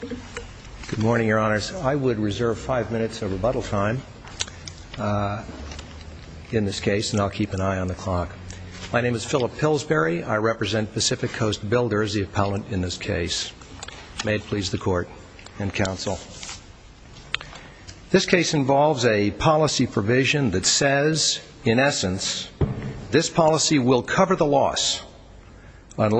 Good morning, your honors. I would reserve five minutes of rebuttal time in this case, and I'll keep an eye on the clock. My name is Phillip Pillsbury. I represent Pacific Coast Builders, the appellant in this case. May it please the court and counsel. This case involves a policy provision that says, in essence, this policy will cover the loss, in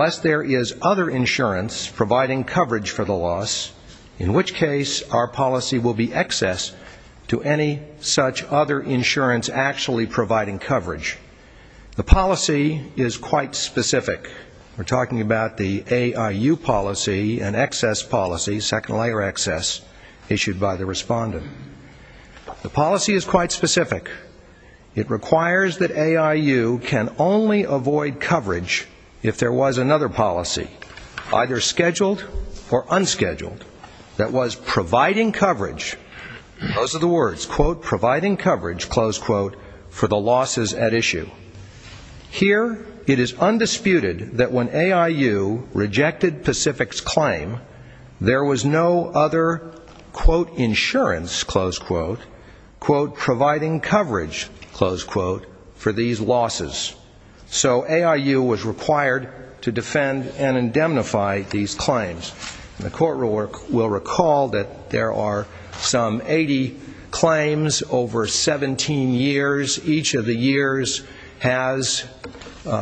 which case our policy will be excess to any such other insurance actually providing coverage. The policy is quite specific. We're talking about the AIU policy, an excess policy, second layer excess, issued by the respondent. The policy is quite specific. It requires that AIU can only avoid coverage if there was another policy, either scheduled or unscheduled, that was providing coverage, those are the words, quote, providing coverage, close quote, for the losses at issue. Here, it is undisputed that when AIU rejected Pacific's claim, there was no other, quote, insurance, close quote, quote, providing coverage, close quote, for these losses. So AIU was required to defend and indemnify these claims. The court will recall that there are some 80 claims over 17 years. Each of the years has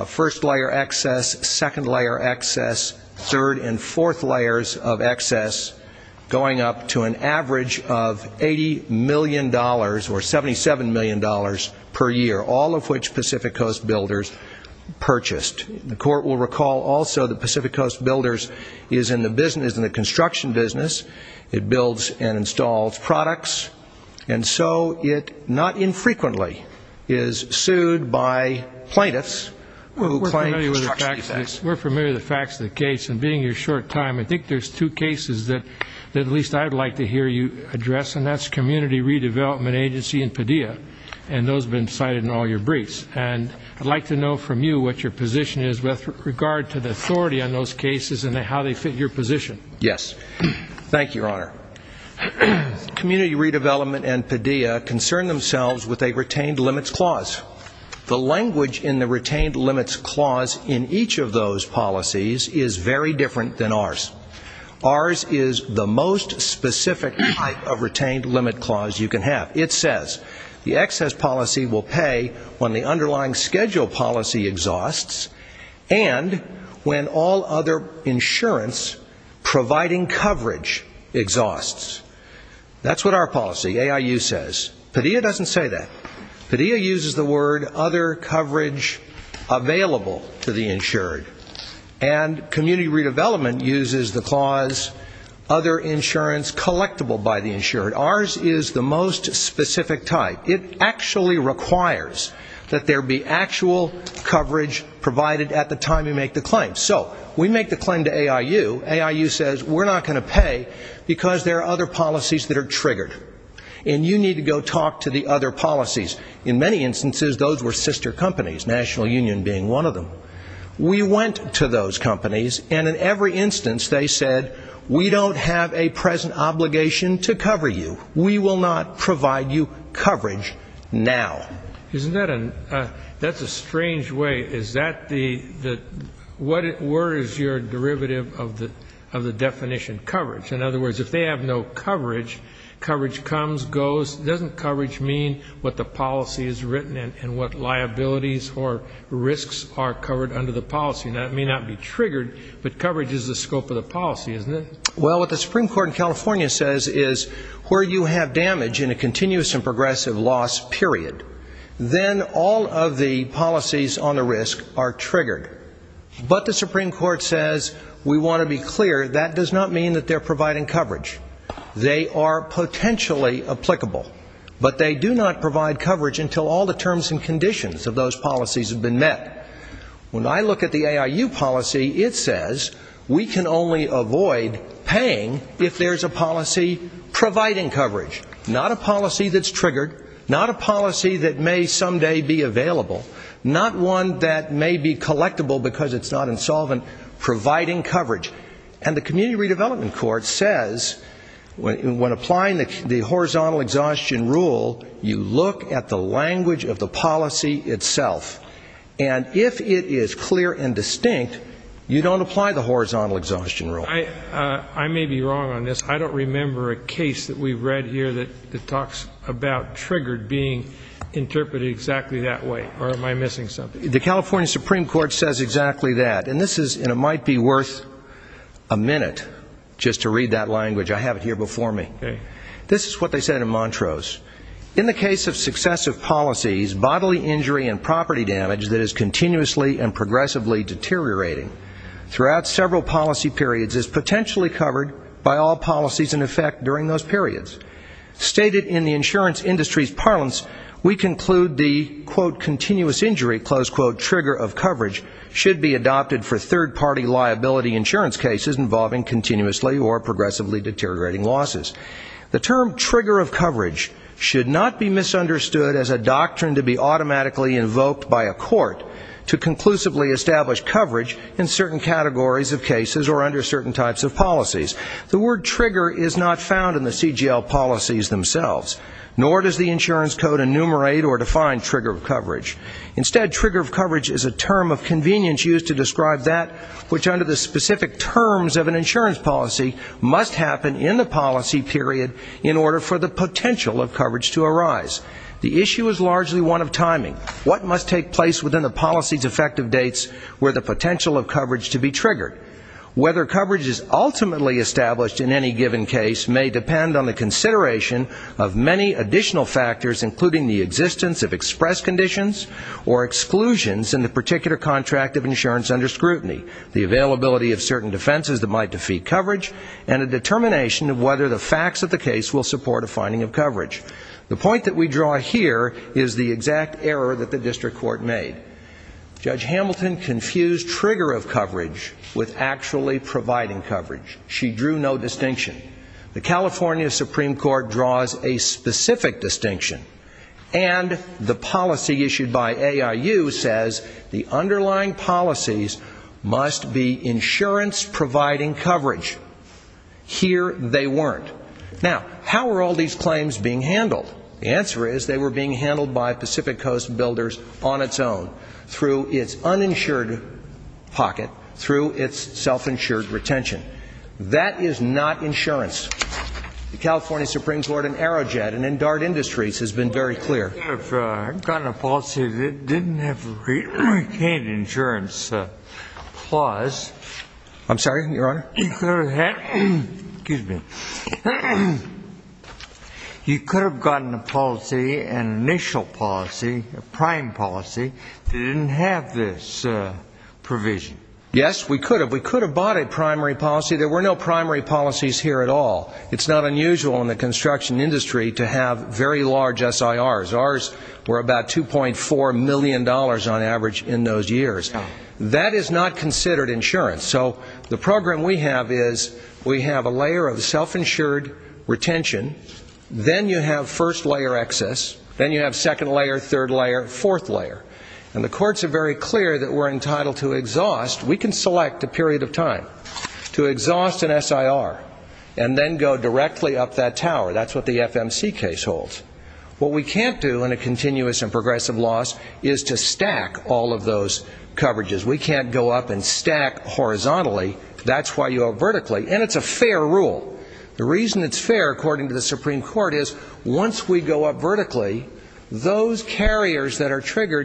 first layer excess, second layer excess, third and fourth layers of excess, going up to an average of $80 million or $77 million per year, all of which Pacific Coast Builders purchased. The court will recall also that Pacific Coast Builders is in the construction business. It builds and installs products. And so it not infrequently is sued by plaintiffs who claim construction defects. We're familiar with the facts of the case. And being your short time, I think there's two cases that at least I'd like to hear you address, and that's Community Redevelopment Agency and Padilla. And those have been cited in all your briefs. And I'd like to know from you what your position is with regard to the authority on those cases and how they fit your position. Yes. Thank you, Your Honor. Community Redevelopment and Padilla concern themselves with a retained limits clause in each of those policies is very different than ours. Ours is the most specific type of retained limit clause you can have. It says, the excess policy will pay when the underlying schedule policy exhausts and when all other insurance providing coverage exhausts. That's what our policy, AIU, says. Padilla doesn't say that. Padilla uses the other coverage available to the insured. And Community Redevelopment uses the clause other insurance collectible by the insured. Ours is the most specific type. It actually requires that there be actual coverage provided at the time you make the claim. So we make the claim to AIU. AIU says, we're not going to pay because there are other policies that are triggered. And you need to go talk to the other policies. In many instances, those were sister companies, National Union being one of them. We went to those companies, and in every instance, they said, we don't have a present obligation to cover you. We will not provide you coverage now. Isn't that a, that's a strange way. Is that the, what were is your derivative of the definition coverage? In other words, if they have no coverage, coverage comes, goes, doesn't coverage mean what the policy is written and what liabilities or risks are covered under the policy? And that may not be triggered, but coverage is the scope of the policy, isn't it? Well, what the Supreme Court in California says is where you have damage in a continuous and progressive loss period, then all of the policies on the risk are triggered. But the Supreme Court says, we want to be clear, that does not mean that they're providing coverage. They are potentially applicable. But they do not provide coverage until all the terms and conditions of those policies have been met. When I look at the AIU policy, it says, we can only avoid paying if there's a policy providing coverage. Not a policy that's triggered. Not a policy that may someday be available. Not one that may be collectible because it's not insolvent providing coverage. And the Community Redevelopment Court says, when applying the horizontal exhaustion rule, you look at the language of the policy itself. And if it is clear and distinct, you don't apply the horizontal exhaustion rule. I may be wrong on this. I don't remember a case that we've read here that talks about triggered being interpreted exactly that way. Or am I missing something? The California Supreme Court says exactly that. And this is, and it might be worth a minute just to read that language. I have it here before me. This is what they said in Montrose. In the case of successive policies, bodily injury and property damage that is continuously and progressively deteriorating throughout several policy periods is potentially covered by all policies in effect during those periods. Stated in the insurance industry's conclusion, the, quote, continuous injury, close quote, trigger of coverage should be adopted for third party liability insurance cases involving continuously or progressively deteriorating losses. The term trigger of coverage should not be misunderstood as a doctrine to be automatically invoked by a court to conclusively establish coverage in certain categories of cases or under certain types of policies. The word trigger is not found in the CGL policies themselves. Nor does the insurance code enumerate or define trigger of coverage. Instead, trigger of coverage is a term of convenience used to describe that which under the specific terms of an insurance policy must happen in the policy period in order for the potential of coverage to arise. The issue is largely one of timing. What must take place within the policy's effective dates where the potential of coverage to be triggered? Whether coverage is ultimately established in any given case may depend on the consideration of many additional factors, including the existence of express conditions or exclusions in the particular contract of insurance under scrutiny, the availability of certain defenses that might defeat coverage, and a determination of whether the facts of the case will support a finding of coverage. The point that we draw here is the exact error that the district court made. Judge Hamilton confused trigger of coverage with actually providing coverage. She drew no distinction. The California Supreme Court draws a specific distinction. And the policy issued by AIU says the underlying policies must be insurance-providing coverage. Here they weren't. Now, how were all these claims being handled? The answer is they were being handled by Pacific Coast builders on its own, through its uninsured pocket, through its self-insured retention. That is not insurance. The California Supreme Court in Aerojet and in DART Industries has been very clear. You could have gotten a policy that didn't have retained insurance clause. I'm sorry, Your Honor? You could have had, excuse me, you could have gotten a policy, an initial policy, a prime policy, that didn't have this provision. Yes, we could have. We could have bought a primary policy. There were no primary policies here at all. It's not unusual in the construction industry to have very large SIRs. Ours were about $2.4 million on average in those years. That is not considered insurance. So the program we have is we have a layer of self-insured retention, then you have first-layer excess, then you have second-layer, third-layer, fourth-layer. And the courts are very clear that we're entitled to exhaust, we can select a period of time, to exhaust an SIR and then go directly up that tower. That's what the FMC case holds. What we can't do in a continuous and progressive loss is to stack all of those coverages. We can't go up and stack horizontally. That's why you go vertically. And it's a fair rule. The reason it's fair, according to the Supreme Court, is once we go up vertically, those policies that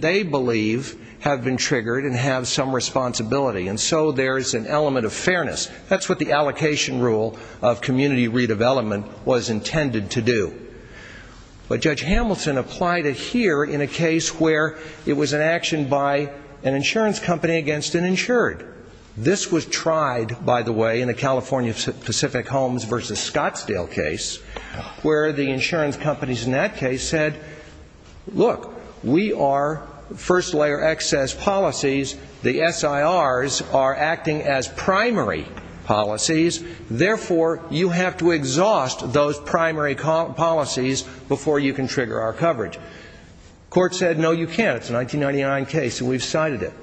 they believe have been triggered and have some responsibility. And so there's an element of fairness. That's what the allocation rule of community redevelopment was intended to do. But Judge Hamilton applied it here in a case where it was an action by an insurance company against an insured. This was tried, by the way, in a California Pacific Homes v. Scottsdale case, where the insurance companies in that case said, look, we are first-layer excess policies. The SIRs are acting as primary policies. Therefore, you have to exhaust those primary policies before you can trigger our coverage. The court said, no, you can't. It's a 1999 case, and we've cited it.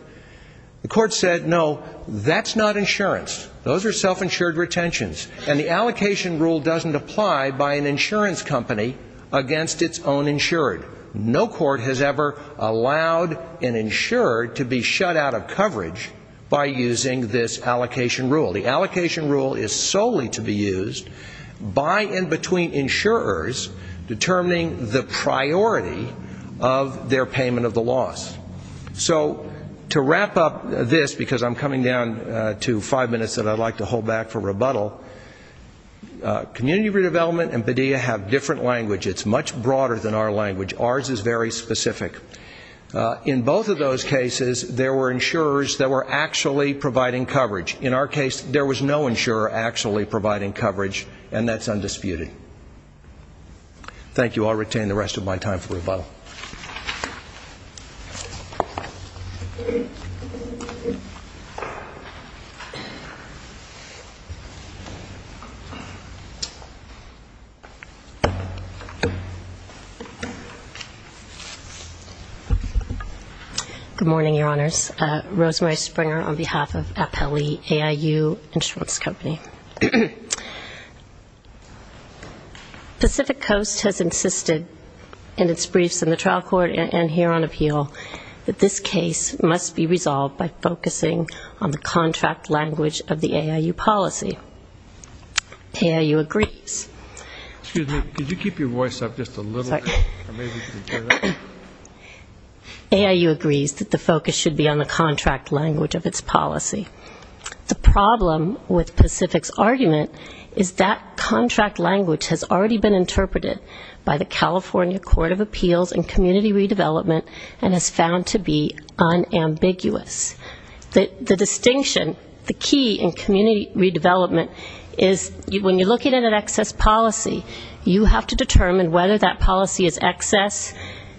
The court said, no, that's not insurance. Those are self-insured retentions. And the allocation rule doesn't apply by an insurance company against its own insured. No court has ever allowed an insured to be shut out of coverage by using this allocation rule. The allocation rule is solely to be used by and between insurers determining the priority of their payment of the loss. So to wrap up this, because I'm coming down to five minutes that I'd like to hold back for rebuttal, Community Redevelopment and Padilla have different language. It's much broader than our language. Ours is very specific. In both of those cases, there were insurers that were actually providing coverage. In our case, there was no insurer actually providing coverage, and that's undisputed. Thank you. I'll retain the rest of my time for rebuttal. Good morning, Your Honors. Rosemary Springer on behalf of Appellee AIU Insurance Company. Pacific Coast has insisted in its briefs in the trial court and here on appeal that this case must be resolved by focusing on the contract language of the AIU policy. AIU agrees. Excuse me. Could you keep your voice up just a little bit? AIU agrees that the focus should be on the contract language of its policy. The problem with Pacific's argument is that contract language has already been interpreted by the California Court of Appeals and Community Redevelopment and is found to be unambiguous. The distinction, the key in Community Redevelopment is when you're looking at an excess policy, you have to determine whether that policy is excess.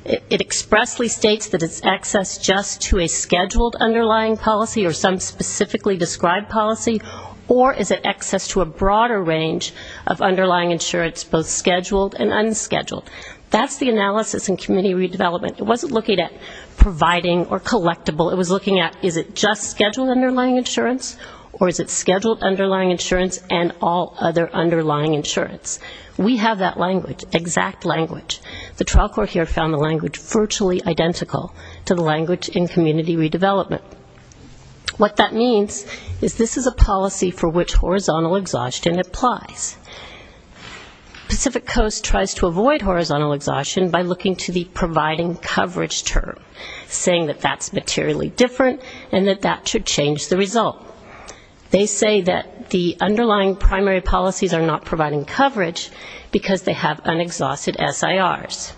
It expressly states that it's excess just to a scheduled underlying policy or some specifically described policy, or is it excess to a broader range of underlying insurance, both scheduled and unscheduled. That's the analysis in Community Redevelopment. It wasn't looking at providing or collectible. It was looking at is it just scheduled underlying insurance or is it scheduled underlying insurance and all other underlying insurance. We have that language, exact language. The trial court here found the language virtually identical to the language in Community Redevelopment. What that means is this is a policy for which horizontal exhaustion applies. Pacific Coast tries to avoid horizontal exhaustion by looking to the providing coverage term, saying that that's materially different and that that should change the result. They say that the underlying primary policies are not providing coverage because they have unexhausted SIRs.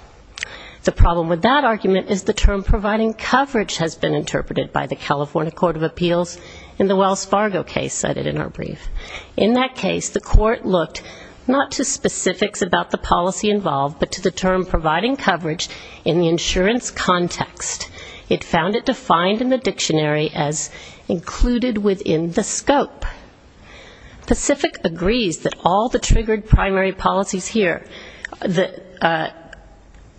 The problem with that argument is the term providing coverage has been interpreted by the California Court of Appeals in the Wells Fargo case cited in our brief. In that case, the court looked not to specifics about the policy involved, but to the term providing coverage in the insurance context. It found it defined in the dictionary as included within the scope. Pacific agrees that all the triggered primary policies here, the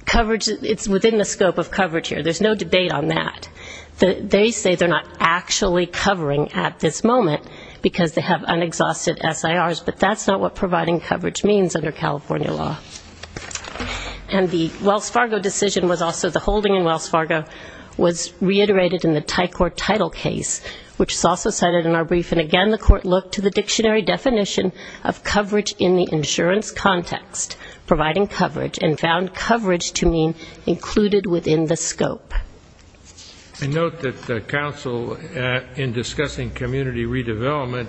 coverage, it's within the scope of coverage here. There's no additional coverage. They say they're not actually covering at this moment because they have unexhausted SIRs, but that's not what providing coverage means under California law. And the Wells Fargo decision was also the holding in Wells Fargo was reiterated in the Thai Court title case, which is also cited in our brief. And again, the court looked to the dictionary definition of coverage in the insurance context, providing coverage, and found coverage to mean included within the scope. I note that the council in discussing community redevelopment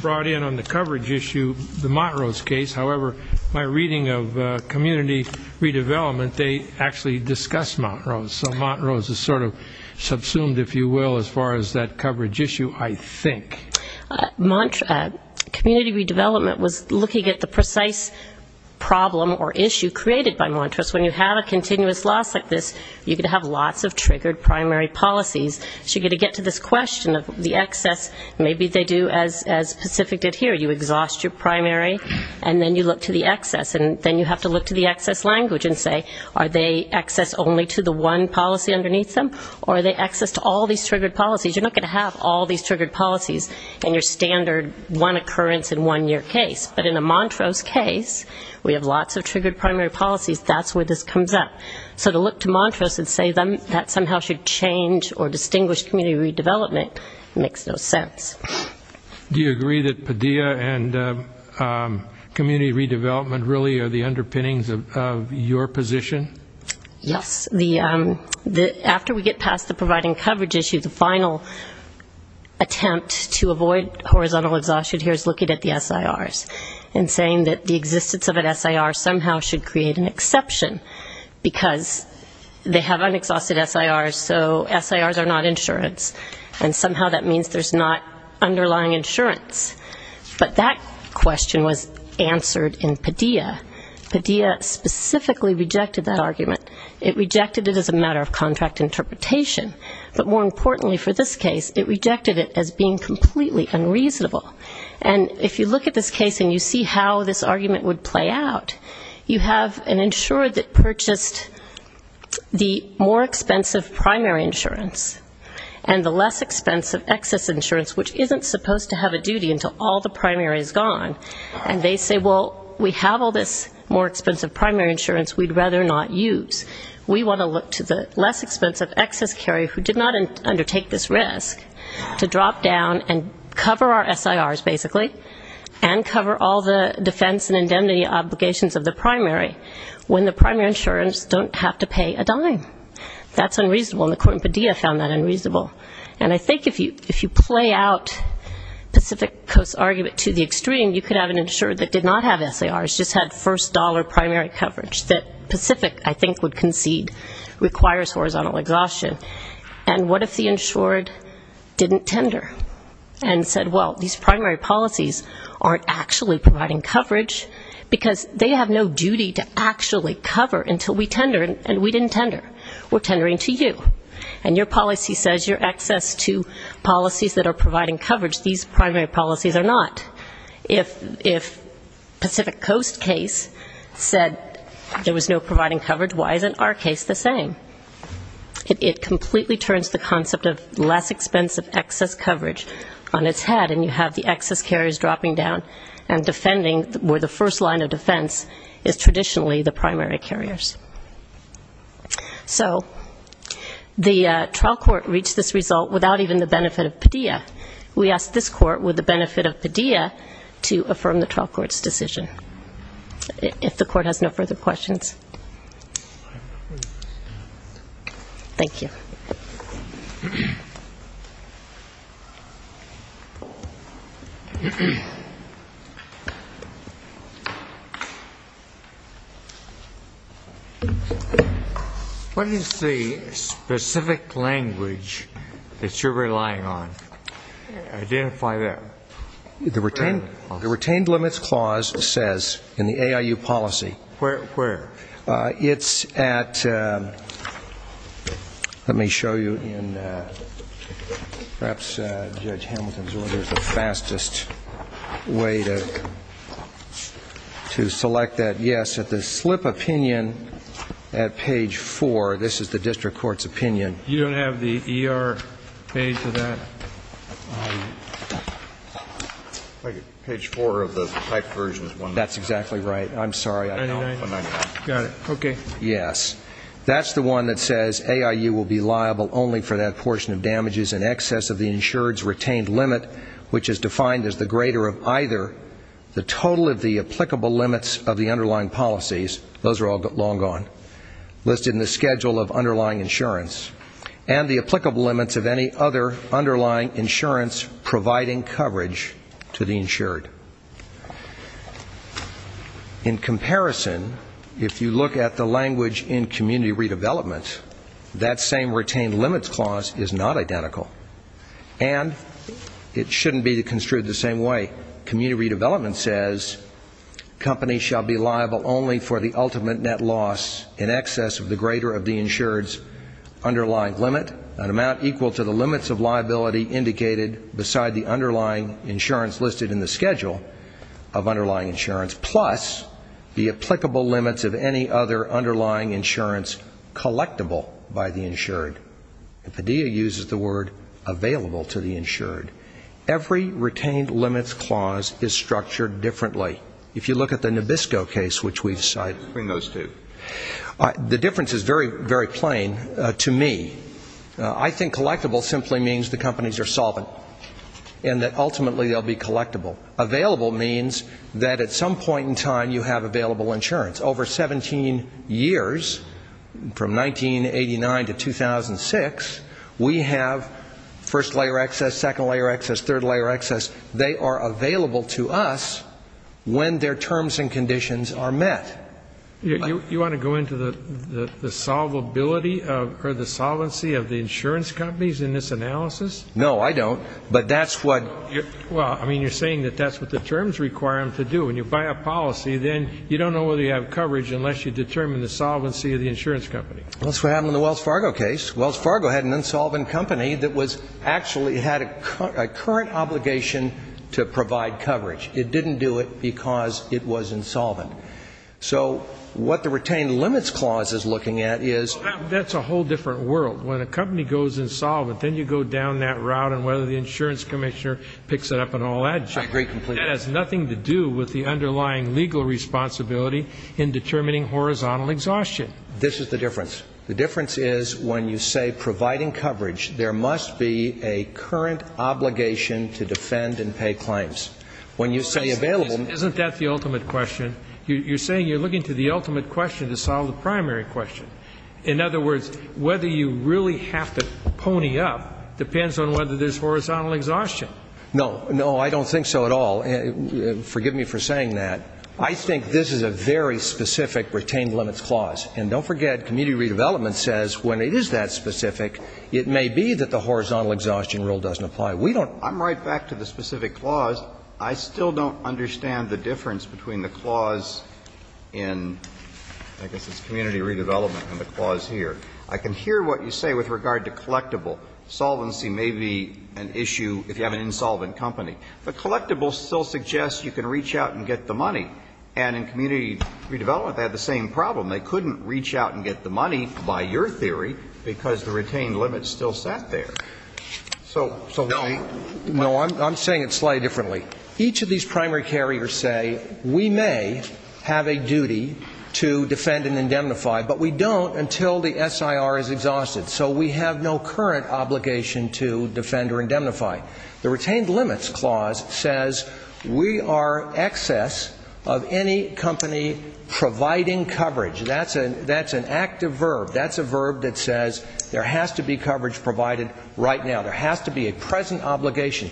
brought in on the coverage issue the Montrose case. However, my reading of community redevelopment, they actually discussed Montrose. So Montrose is sort of subsumed, if you will, as far as that coverage issue, I think. Community redevelopment was looking at the precise problem or issue created by Montrose. When you have a community redevelopment, you're going to have lots of triggered primary policies. So you're going to get to this question of the excess. Maybe they do as Pacific did here. You exhaust your primary, and then you look to the excess. And then you have to look to the excess language and say, are they excess only to the one policy underneath them, or are they excess to all these triggered policies? You're not going to have all these triggered policies in your standard one occurrence in one year case. But in a Montrose case, we have lots of examples that say that somehow should change or distinguish community redevelopment. It makes no sense. Do you agree that PDEA and community redevelopment really are the underpinnings of your position? Yes. After we get past the providing coverage issue, the final attempt to avoid horizontal exhaustion here is looking at the SIRs and saying that the existence of an SIR somehow should create an exception, because they have unexhausted SIRs, so SIRs are not insurance. And somehow that means there's not underlying insurance. But that question was answered in PDEA. PDEA specifically rejected that argument. It rejected it as a matter of contract interpretation. But more importantly for this case, it rejected it as being completely unreasonable. And if you look at this case and you see how this argument would play out, you have an insurer that purchased the SIRs with more expensive primary insurance and the less expensive excess insurance, which isn't supposed to have a duty until all the primary is gone. And they say, well, we have all this more expensive primary insurance we'd rather not use. We want to look to the less expensive excess carrier who did not undertake this risk to drop down and cover our SIRs, basically, and cover all the defense and indemnity obligations of the primary when the primary insurers don't have to pay a dime. That's unreasonable. And the court in PDEA found that unreasonable. And I think if you play out Pacific Coast's argument to the extreme, you could have an insurer that did not have SIRs, just had first dollar primary coverage that Pacific, I think, would concede requires horizontal exhaustion. And what if the insured didn't tender and said, well, these primary policies aren't actually providing coverage, because they have no duty to actually cover until we tender, and we didn't tender. We're tendering to you. And your policy says you're excess to policies that are providing coverage. These primary policies are not. If Pacific Coast's case said there was no providing coverage, why isn't our case the same? It completely turns the concept of less expensive excess coverage on its head, and you have the excess carriers dropping down and defending where the first line of defense is traditionally the primary carriers. So the trial court reached this result without even the benefit of PDEA. We asked this court with the benefit of PDEA to affirm the trial court's decision. If the court has no further questions. Thank you. What is the specific language that you're relying on? Identify that. The retained limits clause says in the AIU policy. Where? It's at, let me show you, perhaps Judge Hamilton's order is the fastest way to select that. Yes, at the slip of the pen, at page four, this is the district court's opinion. You don't have the ER page for that? Page four of the typed version. That's exactly right. I'm sorry, I don't know. Got it. Okay. Yes. That's the one that says AIU will be liable only for that portion of damages in excess of the insured's retained limit, which is those are all long gone, listed in the schedule of underlying insurance, and the applicable limits of any other underlying insurance providing coverage to the insured. In comparison, if you look at the language in community redevelopment, that same retained limits clause is not identical. And it shouldn't be construed the same way. Community redevelopment says companies shall be liable only for the ultimate net loss in excess of the greater of the insured's underlying limit, an amount equal to the limits of liability indicated beside the underlying insurance listed in the schedule of underlying insurance, plus the applicable limits of any other underlying insurance collectible by the insured. Padilla uses the word available to the insured. Every retained limits clause is structured differently. If you look at the Nabisco case, which we've cited. The difference is very, very plain to me. I think collectible simply means the companies are solvent, and that ultimately they'll be collectible. Available means that at some point in time you have available insurance. Over 17 years, from 1989 to 2006, we have first layer excess, second layer excess, third layer excess, they are available to us when their terms and conditions are met. You want to go into the solvability or the solvency of the insurance companies in this analysis? No, I don't. But that's what you're saying, that that's what the terms require them to do. When you buy a policy, then you don't know whether you have coverage unless you determine the solvency of the insurance company. That's what happened in the Wells Fargo case. Wells Fargo had an insolvent company that actually had a current obligation to provide coverage. What the retained limits clause is looking at is... That's a whole different world. When a company goes insolvent, then you go down that route on whether the insurance commissioner picks it up and all that junk. I agree completely. That has nothing to do with the underlying legal responsibility in determining horizontal exhaustion. This is the difference. The difference is when you say providing coverage, there must be a current obligation to defend and pay claims. Isn't that the ultimate question? You're saying you're looking to the ultimate question to solve the primary question. In other words, whether you really have to pony up depends on whether there's horizontal exhaustion. No, no, I don't think so at all. Forgive me for saying that. I think this is a very specific retained limits clause. And don't forget, community redevelopment says when it is that specific, it may be that the horizontal exhaustion rule doesn't apply. I'm right back to the specific clause. I still don't understand the difference between the clause in, I guess it's community redevelopment, and the clause here. I can hear what you say with regard to collectible. Solvency may be an issue if you have an insolvent company. But collectible still suggests you can reach out and get the money. And in community redevelopment, they had the same problem. They couldn't reach out and get the money, by your theory, because the retained limits still sat there. No, I'm saying it slightly differently. Each of these primary carriers say we may have a duty to defend and indemnify, but we don't until the SIR is exhausted. So we have no current obligation to defend or indemnify. The retained limits clause says we are excess of any company providing coverage. That's an active verb. That's a verb that says there has to be coverage provided right now. There has to be a present obligation.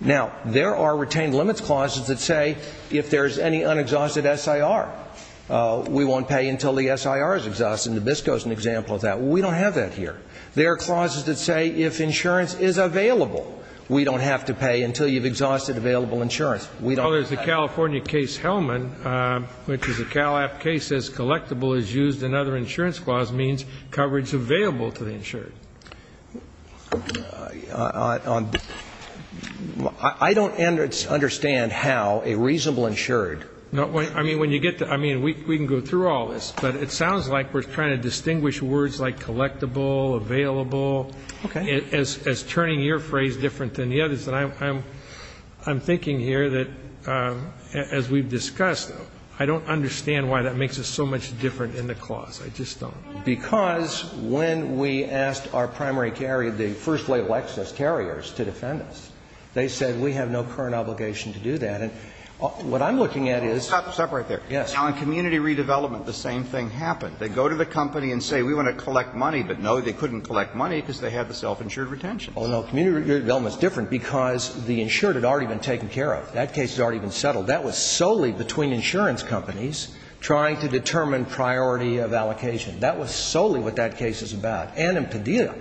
Now, there are retained limits clauses that say if there's any unexhausted SIR, we won't pay until the SIR is exhausted. And Nabisco is an example of that. We don't have that here. There are clauses that say if insurance is available, we don't have to pay until you've exhausted available insurance. Well, there's the California case Hellman, which is a Cal App case that says collectible is used. Another insurance clause means coverage available to the insured. I don't understand how a reasonable insured No. I mean, when you get to we can go through all this, but it sounds like we're trying to distinguish words like collectible, available, as turning your phrase different than the others. And I'm thinking here that, as we've discussed, I don't understand why that makes us so much different in the clause. I just don't. Because when we asked our primary carrier, the first-rate Lexus carriers, to defend us, they said we have no current obligation to do that. And what I'm looking at is Stop right there. Yes. Now, in community redevelopment, the same thing happened. They go to the company and say we want to collect money, but no, they couldn't collect money because they had the self-insured retention. Oh, no. Community redevelopment is different because the insured had already been taken care of. That case had already been settled. That was solely between insurance companies trying to determine priority of allocation. That was solely what that case was about. And in Padilla,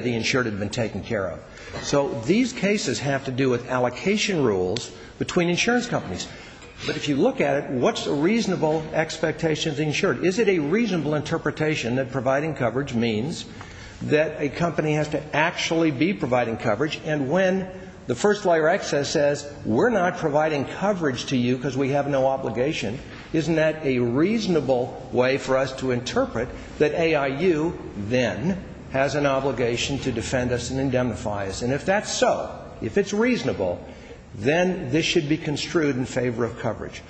the insured had been taken care of. So these cases have to do with allocation rules between insurance companies. But if you look at it, what's a reasonable expectation of the insured? Is it a reasonable interpretation that providing coverage means that a company has to actually be providing coverage? And when the first-layer excess says we're not providing coverage to you because we have no obligation, isn't that a reasonable way for us to interpret that AIU then has an obligation to defend us and indemnify us? And if that's so, if it's reasonable, then this should be construed in favor of coverage.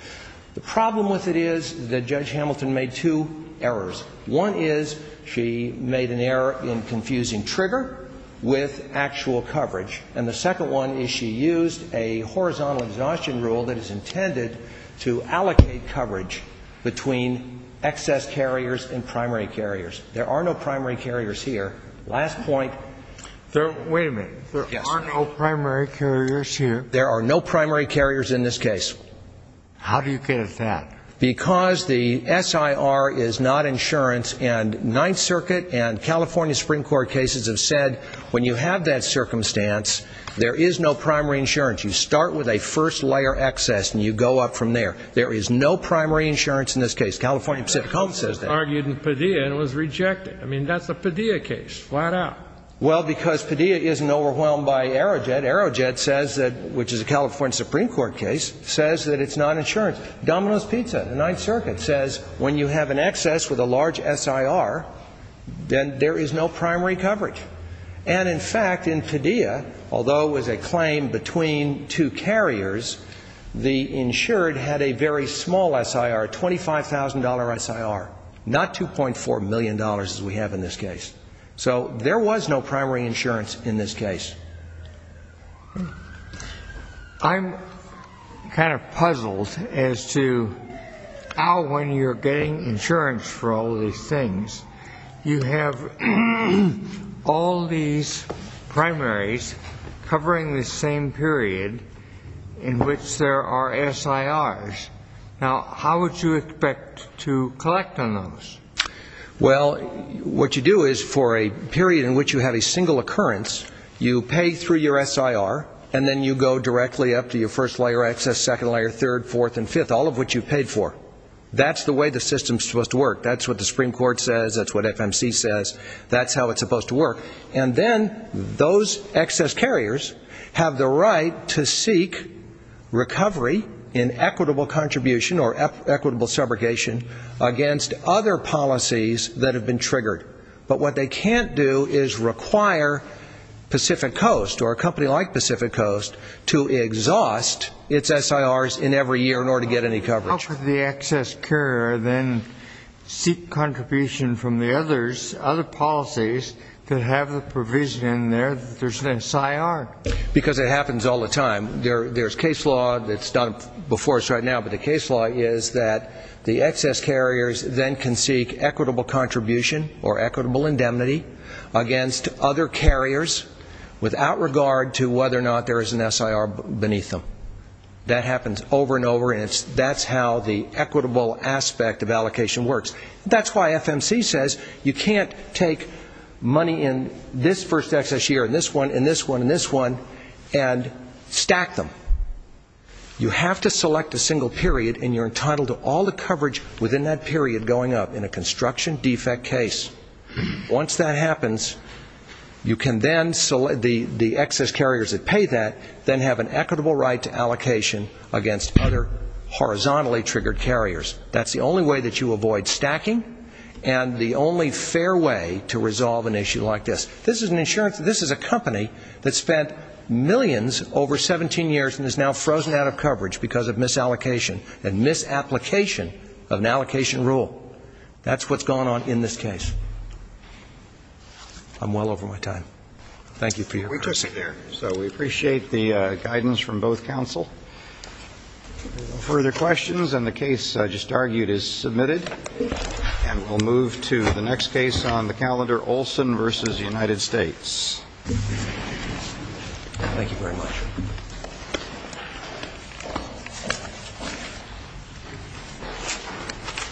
The problem with it is that Judge Hamilton made two errors. One is she made an error in confusing trigger with actual coverage. And the second one is she used a horizontal exhaustion rule that is intended to allocate coverage between excess carriers and primary carriers. There are no primary carriers here. Last point. Wait a minute. There are no primary carriers here? There are no primary carriers in this case. How do you get at that? Because the SIR is not insurance and Ninth Circuit and California Supreme Court cases have said when you have that circumstance, there is no primary insurance. You start with a first-layer excess and you go up from there. There is no primary insurance in this case. California Pacific Coast says that. Well, because Padilla isn't overwhelmed by Aerojet. Aerojet says that, which is a California Supreme Court case, says that it's not insurance. Domino's Pizza, the Ninth Circuit, says when you have an excess with a large SIR, then there is no primary coverage. And in fact, in Padilla, although it was a claim between two carriers, the insured had a primary coverage. It was a very small SIR, a $25,000 SIR, not $2.4 million as we have in this case. So there was no primary insurance in this case. I'm kind of puzzled as to how, when you're getting insurance for all these things, you have all these primaries covering the same period in which there are SIRs. Now, how would you expect to collect on those? Well, what you do is, for a period in which you have a single occurrence, you pay through your SIR, and then you go directly up to your first-layer excess, second-layer, third, fourth, and fifth, all of which you paid for. That's the way the system is supposed to work. That's what the Supreme Court says. That's what FMC says. That's how it's supposed to work. And then those excess carriers have the right to seek recovery in equitable context. They have the right to seek contribution or equitable subrogation against other policies that have been triggered. But what they can't do is require Pacific Coast or a company like Pacific Coast to exhaust its SIRs in every year in order to get any coverage. How could the excess carrier then seek contribution from the other policies that have the provision in there that there's an SIR? Because it happens all the time. There's case law that's done before us right now, but the case law is that the excess carriers then can seek equitable contribution or equitable indemnity against other carriers without regard to whether or not there is an SIR beneath them. That happens over and over, and that's how the equitable aspect of allocation works. That's why FMC says you can't take money in this first excess year and this one and this one and this one and stack them. You have to select a single period, and you're entitled to all the coverage within that period going up in a construction defect case. Once that happens, you can then select the excess carriers that pay that, then have an equitable right to allocation against other horizontally triggered carriers. That's the only way that you avoid stacking and the only fair way to resolve an issue like this. This is an insurance, this is a company that spent millions over 17 years and is now frozen out of coverage because of misallocation and misapplication of an allocation rule. That's what's going on in this case. I'm well over my time. Thank you for your questions. We took care, so we appreciate the guidance from both counsel. No further questions, and the case I just argued is submitted, and we'll move to the next case on the calendar, Olson v. United States. Thank you very much.